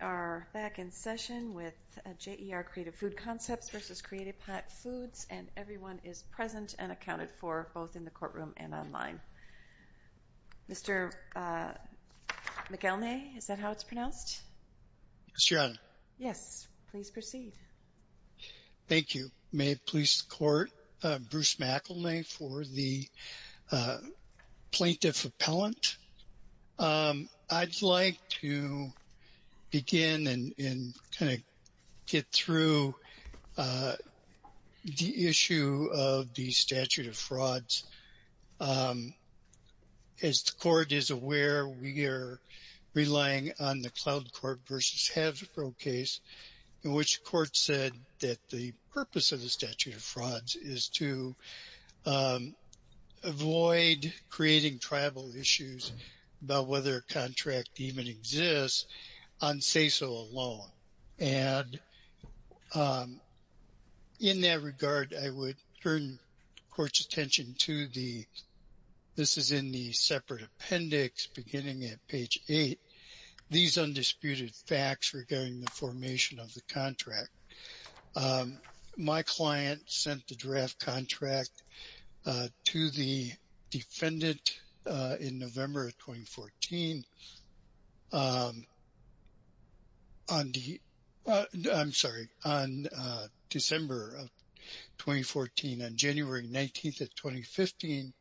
We are back in session with J.E.R. Creative Food Concepts v. Create A Pack Foods, and everyone is present and accounted for, both in the courtroom and online. Mr. McElnay, is that how it's pronounced? Yes, Your Honor. Yes, please proceed. Thank you. May it please the Court, Bruce McElnay for the Plaintiff Appellant. I'd like to begin and kind of get through the issue of the statute of frauds. As the Court is aware, we are relying on the Cloud Court v. Haverhill case, in which the Court said that the purpose of the statute of frauds is to avoid creating tribal issues about whether a contract even exists on say-so alone. And in that regard, I would turn the Court's attention to the – this is in the separate appendix beginning at page 8 – these undisputed facts regarding the formation of the contract. My client sent the draft contract to the defendant in November of 2014. On the – I'm sorry, on December of 2014, on January 19th of 2015,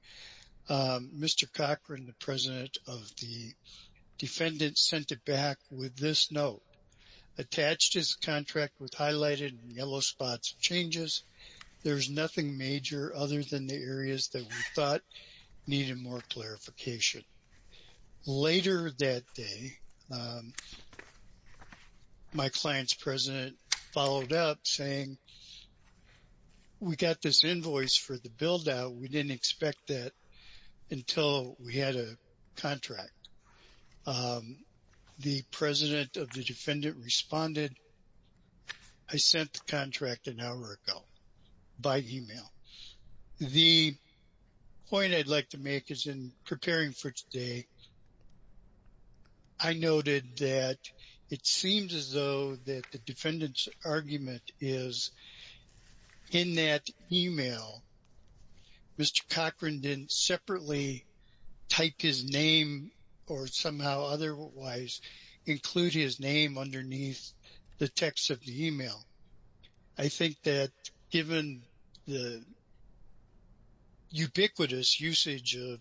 Mr. Cochran, the president of the defendant, sent it back with this note. Attached is the contract with highlighted in yellow spots changes. There is nothing major other than the areas that we thought needed more clarification. Later that day, my client's president followed up saying, we got this invoice for the build-out. We didn't expect that until we had a contract. The president of the defendant responded. I sent the contract an hour ago by email. The point I'd like to make is in preparing for today, I noted that it seems as though that the defendant's argument is in that email. Mr. Cochran didn't separately type his name or somehow otherwise include his name underneath the text of the email. I think that given the ubiquitous usage of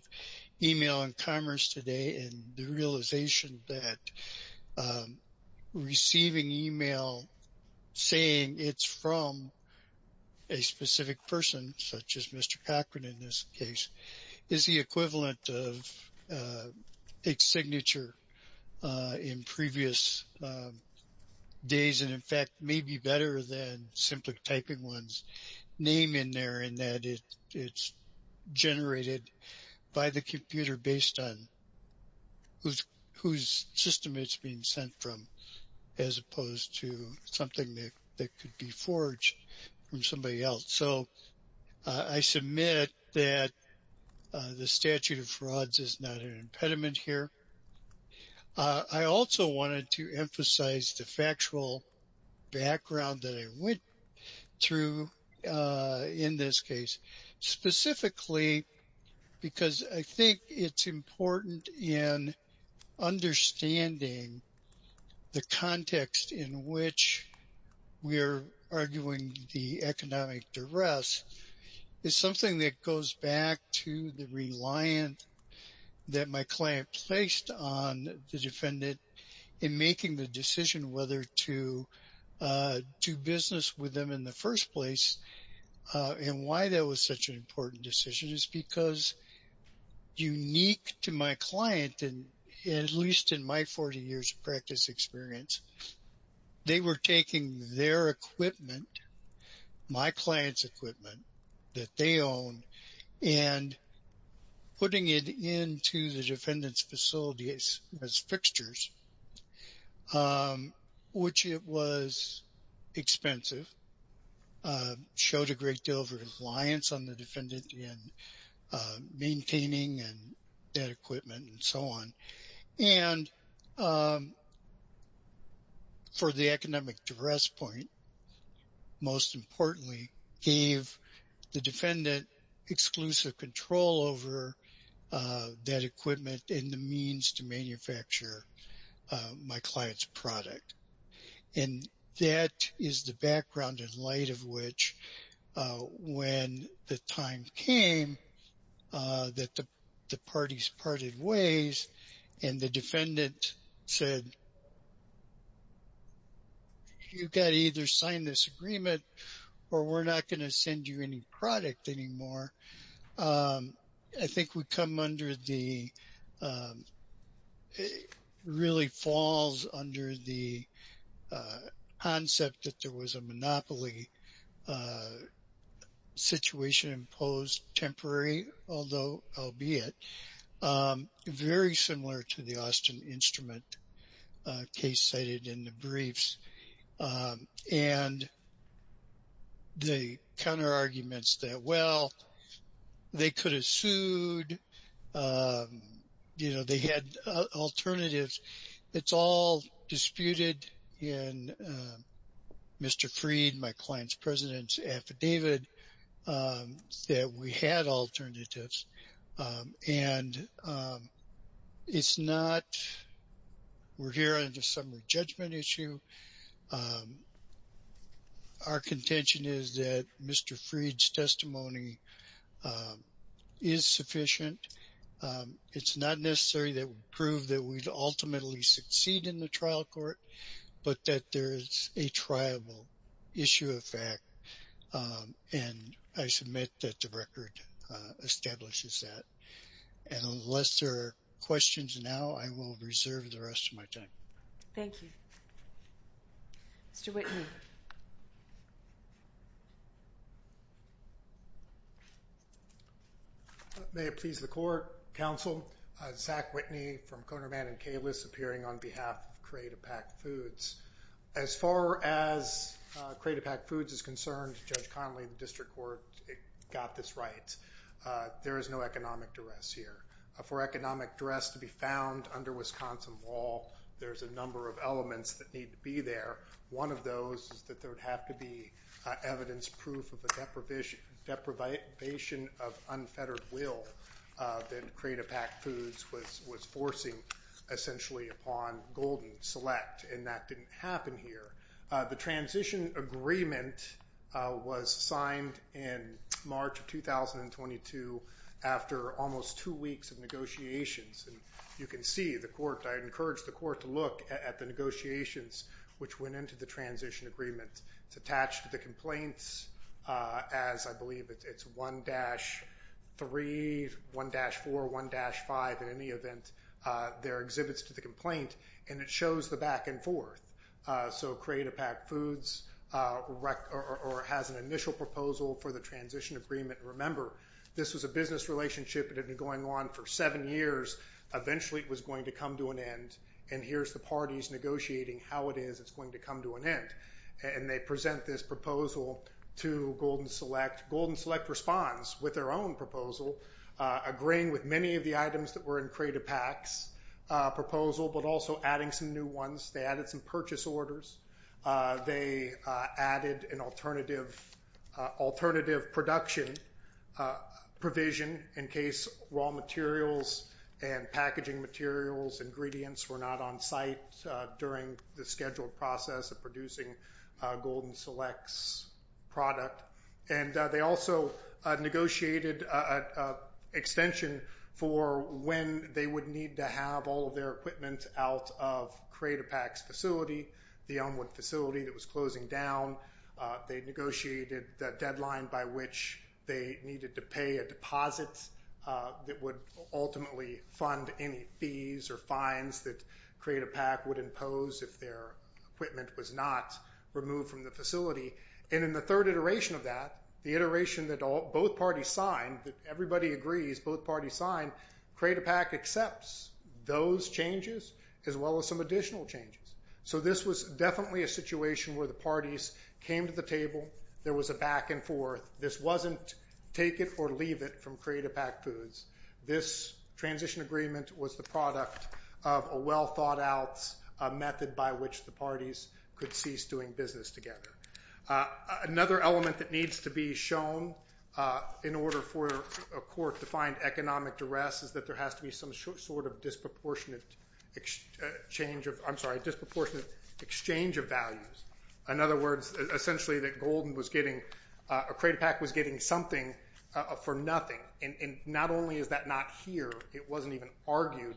email in commerce today and the realization that receiving email saying it's from a specific person, such as Mr. Cochran in this case, is the equivalent of a signature in previous days and in fact may be better than simply typing one's name in there and that it's generated by the computer based on whose system it's being sent from as opposed to something that could be forged from somebody else. So I submit that the statute of frauds is not an impediment here. I also wanted to emphasize the factual background that I went through in this case, specifically because I think it's important in understanding the context in which we are arguing the economic duress. It's something that goes back to the reliance that my client placed on the defendant in making the decision whether to do business with them in the first place and why that was such an important decision is because unique to my client, at least in my 40 years of practice experience, they were taking their equipment, my client's equipment that they own, and putting it into the defendant's facility as fixtures, which it was expensive, showed a great deal of reliance on the defendant in maintaining that equipment and so on. And for the economic duress point, most importantly, gave the defendant exclusive control over that equipment and the means to manufacture my client's product. And that is the background in light of which when the time came that the parties parted ways and the defendant said, you've got to either sign this agreement or we're not going to send you any product anymore. I think we come under the, really falls under the concept that there was a monopoly situation imposed temporary, although albeit, very similar to the Austin Instrument case cited in the briefs. And the counter arguments that, well, they could have sued. You know, they had alternatives. It's all disputed in Mr. Freed, my client's president's affidavit. That we had alternatives. And it's not, we're here on a summary judgment issue. Our contention is that Mr. Freed's testimony is sufficient. It's not necessary that we prove that we'd ultimately succeed in the trial court, but that there is a triable issue of fact. And I submit that the record establishes that. And unless there are questions now, I will reserve the rest of my time. Thank you. Mr. Whitney. May it please the court, counsel, Zach Whitney from Conerman and Kalis, appearing on behalf of Create a Packed Foods. As far as Create a Packed Foods is concerned, Judge Connolly, the district court got this right. There is no economic duress here. For economic duress to be found under Wisconsin law, there's a number of elements that need to be there. One of those is that there would have to be evidence proof of a deprivation of unfettered will that Create a Packed Foods was forcing, essentially, upon Golden Select. And that didn't happen here. The transition agreement was signed in March of 2022 after almost two weeks of negotiations. And you can see the court, I encourage the court to look at the negotiations which went into the transition agreement. It's attached to the complaints as I believe it's 1-3, 1-4, 1-5. In any event, there are exhibits to the complaint, and it shows the back and forth. So Create a Packed Foods has an initial proposal for the transition agreement. Remember, this was a business relationship. It had been going on for seven years. Eventually, it was going to come to an end, and here's the parties negotiating how it is it's going to come to an end. And they present this proposal to Golden Select. Golden Select responds with their own proposal, agreeing with many of the items that were in Create a Packed's proposal, but also adding some new ones. They added some purchase orders. They added an alternative production provision in case raw materials and packaging materials, ingredients were not on site during the scheduled process of producing Golden Select's product. And they also negotiated an extension for when they would need to have all of their equipment out of Create a Packed's facility, the Elmwood facility that was closing down. They negotiated a deadline by which they needed to pay a deposit that would ultimately fund any fees or fines that Create a Packed would impose if their equipment was not removed from the facility. And in the third iteration of that, the iteration that both parties signed, that everybody agrees both parties signed, Create a Packed accepts those changes as well as some additional changes. So this was definitely a situation where the parties came to the table. There was a back and forth. This wasn't take it or leave it from Create a Packed Foods. This transition agreement was the product of a well-thought-out method by which the parties could cease doing business together. Another element that needs to be shown in order for a court to find economic duress is that there has to be some sort of disproportionate exchange of values. In other words, essentially that Golden was getting, Create a Packed was getting something for nothing. And not only is that not here, it wasn't even argued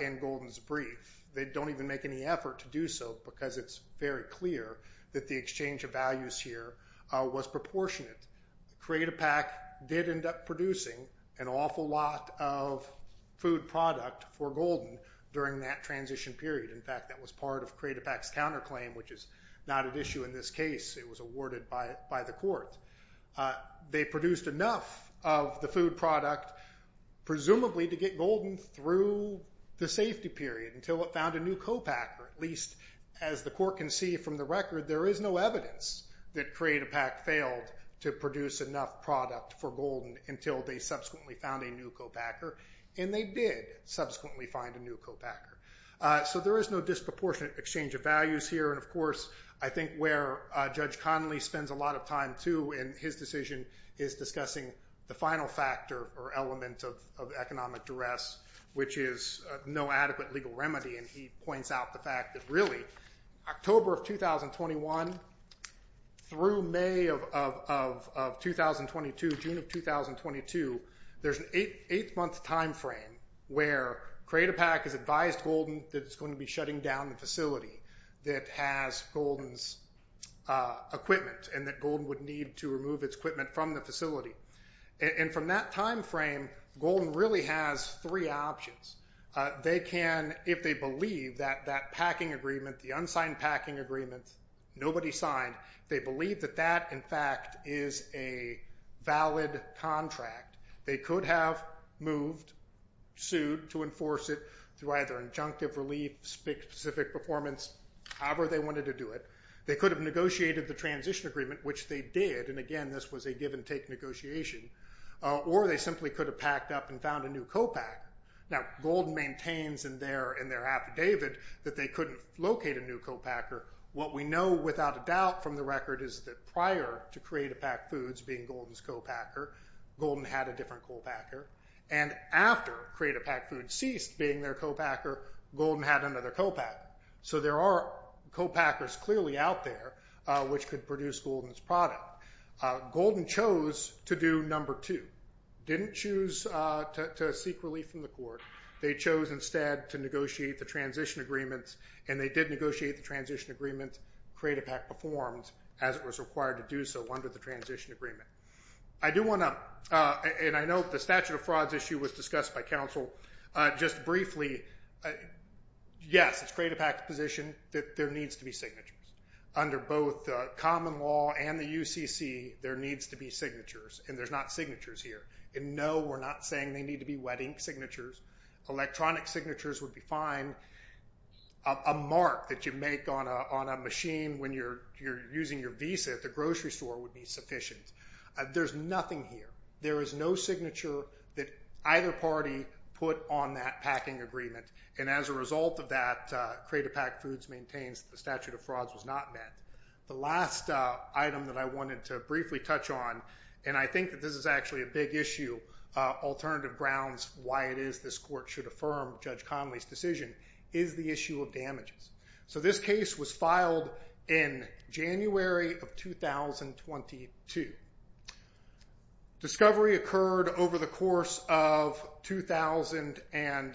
in Golden's brief. They don't even make any effort to do so because it's very clear that the exchange of values here was proportionate. Create a Packed did end up producing an awful lot of food product for Golden during that transition period. In fact, that was part of Create a Packed's counterclaim, which is not at issue in this case. It was awarded by the court. They produced enough of the food product, presumably, to get Golden through the safety period until it found a new co-packer. At least as the court can see from the record, there is no evidence that Create a Packed failed to produce enough product for Golden until they subsequently found a new co-packer. And they did subsequently find a new co-packer. So there is no disproportionate exchange of values here. And, of course, I think where Judge Connolly spends a lot of time too in his decision is discussing the final factor or element of economic duress, which is no adequate legal remedy. And he points out the fact that really October of 2021 through May of 2022, June of 2022, there's an eight-month time frame where Create a Packed has advised Golden that it's going to be shutting down the facility that has Golden's equipment and that Golden would need to remove its equipment from the facility. And from that time frame, Golden really has three options. They can, if they believe that that packing agreement, the unsigned packing agreement, nobody signed, they believe that that, in fact, is a valid contract. They could have moved, sued to enforce it through either injunctive relief, specific performance, however they wanted to do it. They could have negotiated the transition agreement, which they did. And, again, this was a give-and-take negotiation. Or they simply could have packed up and found a new co-packer. Now Golden maintains in their affidavit that they couldn't locate a new co-packer. What we know without a doubt from the record is that prior to Create a Packed Foods being Golden's co-packer, Golden had a different co-packer. And after Create a Packed Foods ceased being their co-packer, Golden had another co-packer. So there are co-packers clearly out there which could produce Golden's product. Golden chose to do number two, didn't choose to seek relief from the court. They chose instead to negotiate the transition agreements, and they did negotiate the transition agreement. Create a Pack performed as it was required to do so under the transition agreement. I do want to, and I note the statute of frauds issue was discussed by counsel. Just briefly, yes, it's Create a Packed's position that there needs to be signatures. Under both common law and the UCC, there needs to be signatures, and there's not signatures here. And, no, we're not saying they need to be wet ink signatures. Electronic signatures would be fine. A mark that you make on a machine when you're using your visa at the grocery store would be sufficient. There's nothing here. There is no signature that either party put on that packing agreement. And as a result of that, Create a Packed Foods maintains the statute of frauds was not met. The last item that I wanted to briefly touch on, and I think that this is actually a big issue, alternative grounds why it is this court should affirm Judge Connolly's decision, is the issue of damages. So this case was filed in January of 2022. Discovery occurred over the course of 2000 and,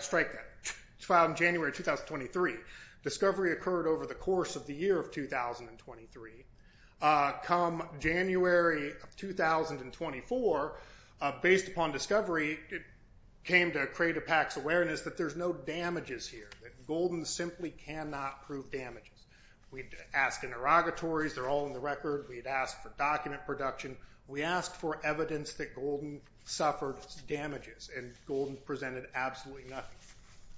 strike that, it was filed in January of 2023. Discovery occurred over the course of the year of 2023. Come January of 2024, based upon Discovery, it came to Create a Packed's awareness that there's no damages here, that Golden simply cannot prove damages. We'd ask interrogatories. They're all in the record. We'd ask for document production. We asked for evidence that Golden suffered damages, and Golden presented absolutely nothing.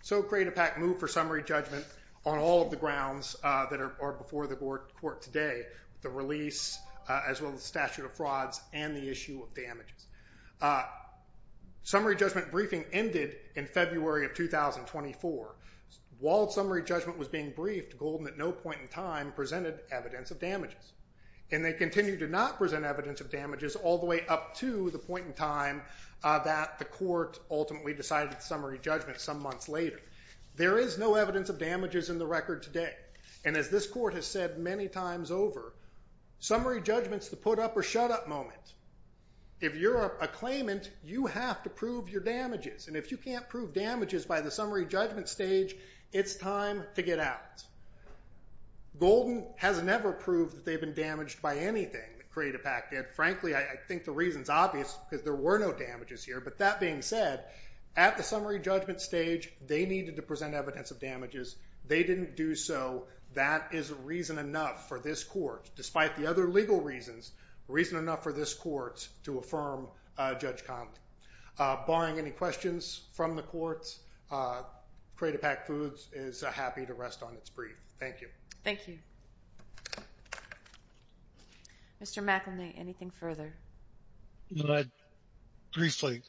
So Create a Packed moved for summary judgment on all of the grounds that are before the court today, the release as well as the statute of frauds and the issue of damages. Summary judgment briefing ended in February of 2024. While summary judgment was being briefed, Golden at no point in time presented evidence of damages, and they continued to not present evidence of damages all the way up to the point in time that the court ultimately decided summary judgment some months later. There is no evidence of damages in the record today, and as this court has said many times over, summary judgment's the put-up-or-shut-up moment. If you're a claimant, you have to prove your damages, and if you can't prove damages by the summary judgment stage, it's time to get out. Golden has never proved that they've been damaged by anything that Create a Pack did. Frankly, I think the reason's obvious because there were no damages here. But that being said, at the summary judgment stage, they needed to present evidence of damages. They didn't do so. That is reason enough for this court, despite the other legal reasons, reason enough for this court to affirm Judge Compton. Barring any questions from the courts, Create a Pack Foods is happy to rest on its brief. Thank you. Thank you. Mr. McElnay, anything further? Briefly,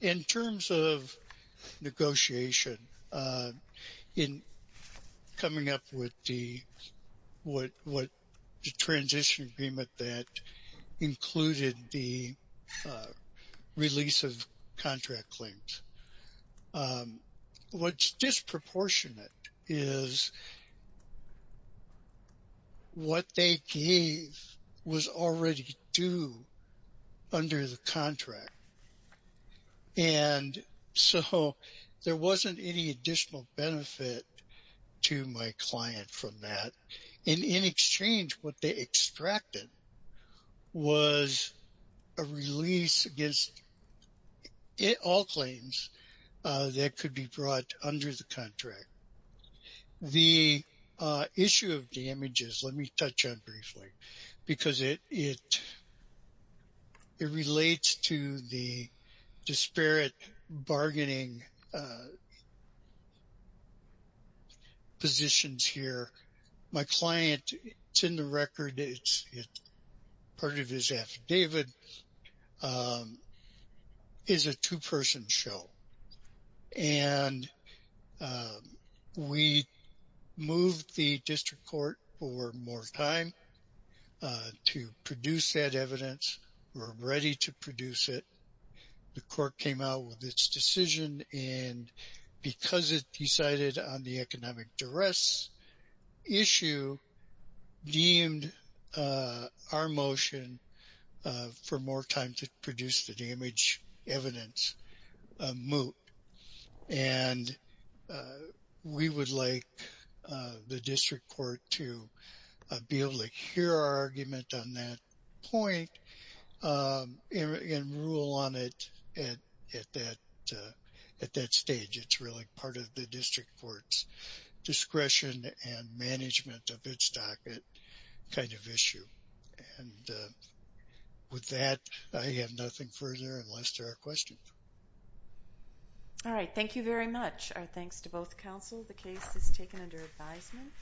in terms of negotiation, in coming up with the transition agreement that included the release of contract claims, what's disproportionate is what they gave was already due under the contract. And so there wasn't any additional benefit to my client from that. And in exchange, what they extracted was a release against all claims that could be brought under the contract. The issue of damages, let me touch on briefly, because it relates to the disparate bargaining positions here. My client, it's in the record, part of his affidavit, is a two-person show. And we moved the district court for more time to produce that evidence. We're ready to produce it. The court came out with its decision. And because it decided on the economic duress issue, deemed our motion for more time to produce the damage evidence moot. And we would like the district court to be able to hear our argument on that point and rule on it at that stage. It's really part of the district court's discretion and management of its docket kind of issue. And with that, I have nothing further unless there are questions. All right. Thank you very much. Our thanks to both counsel. The case is taken under advisement.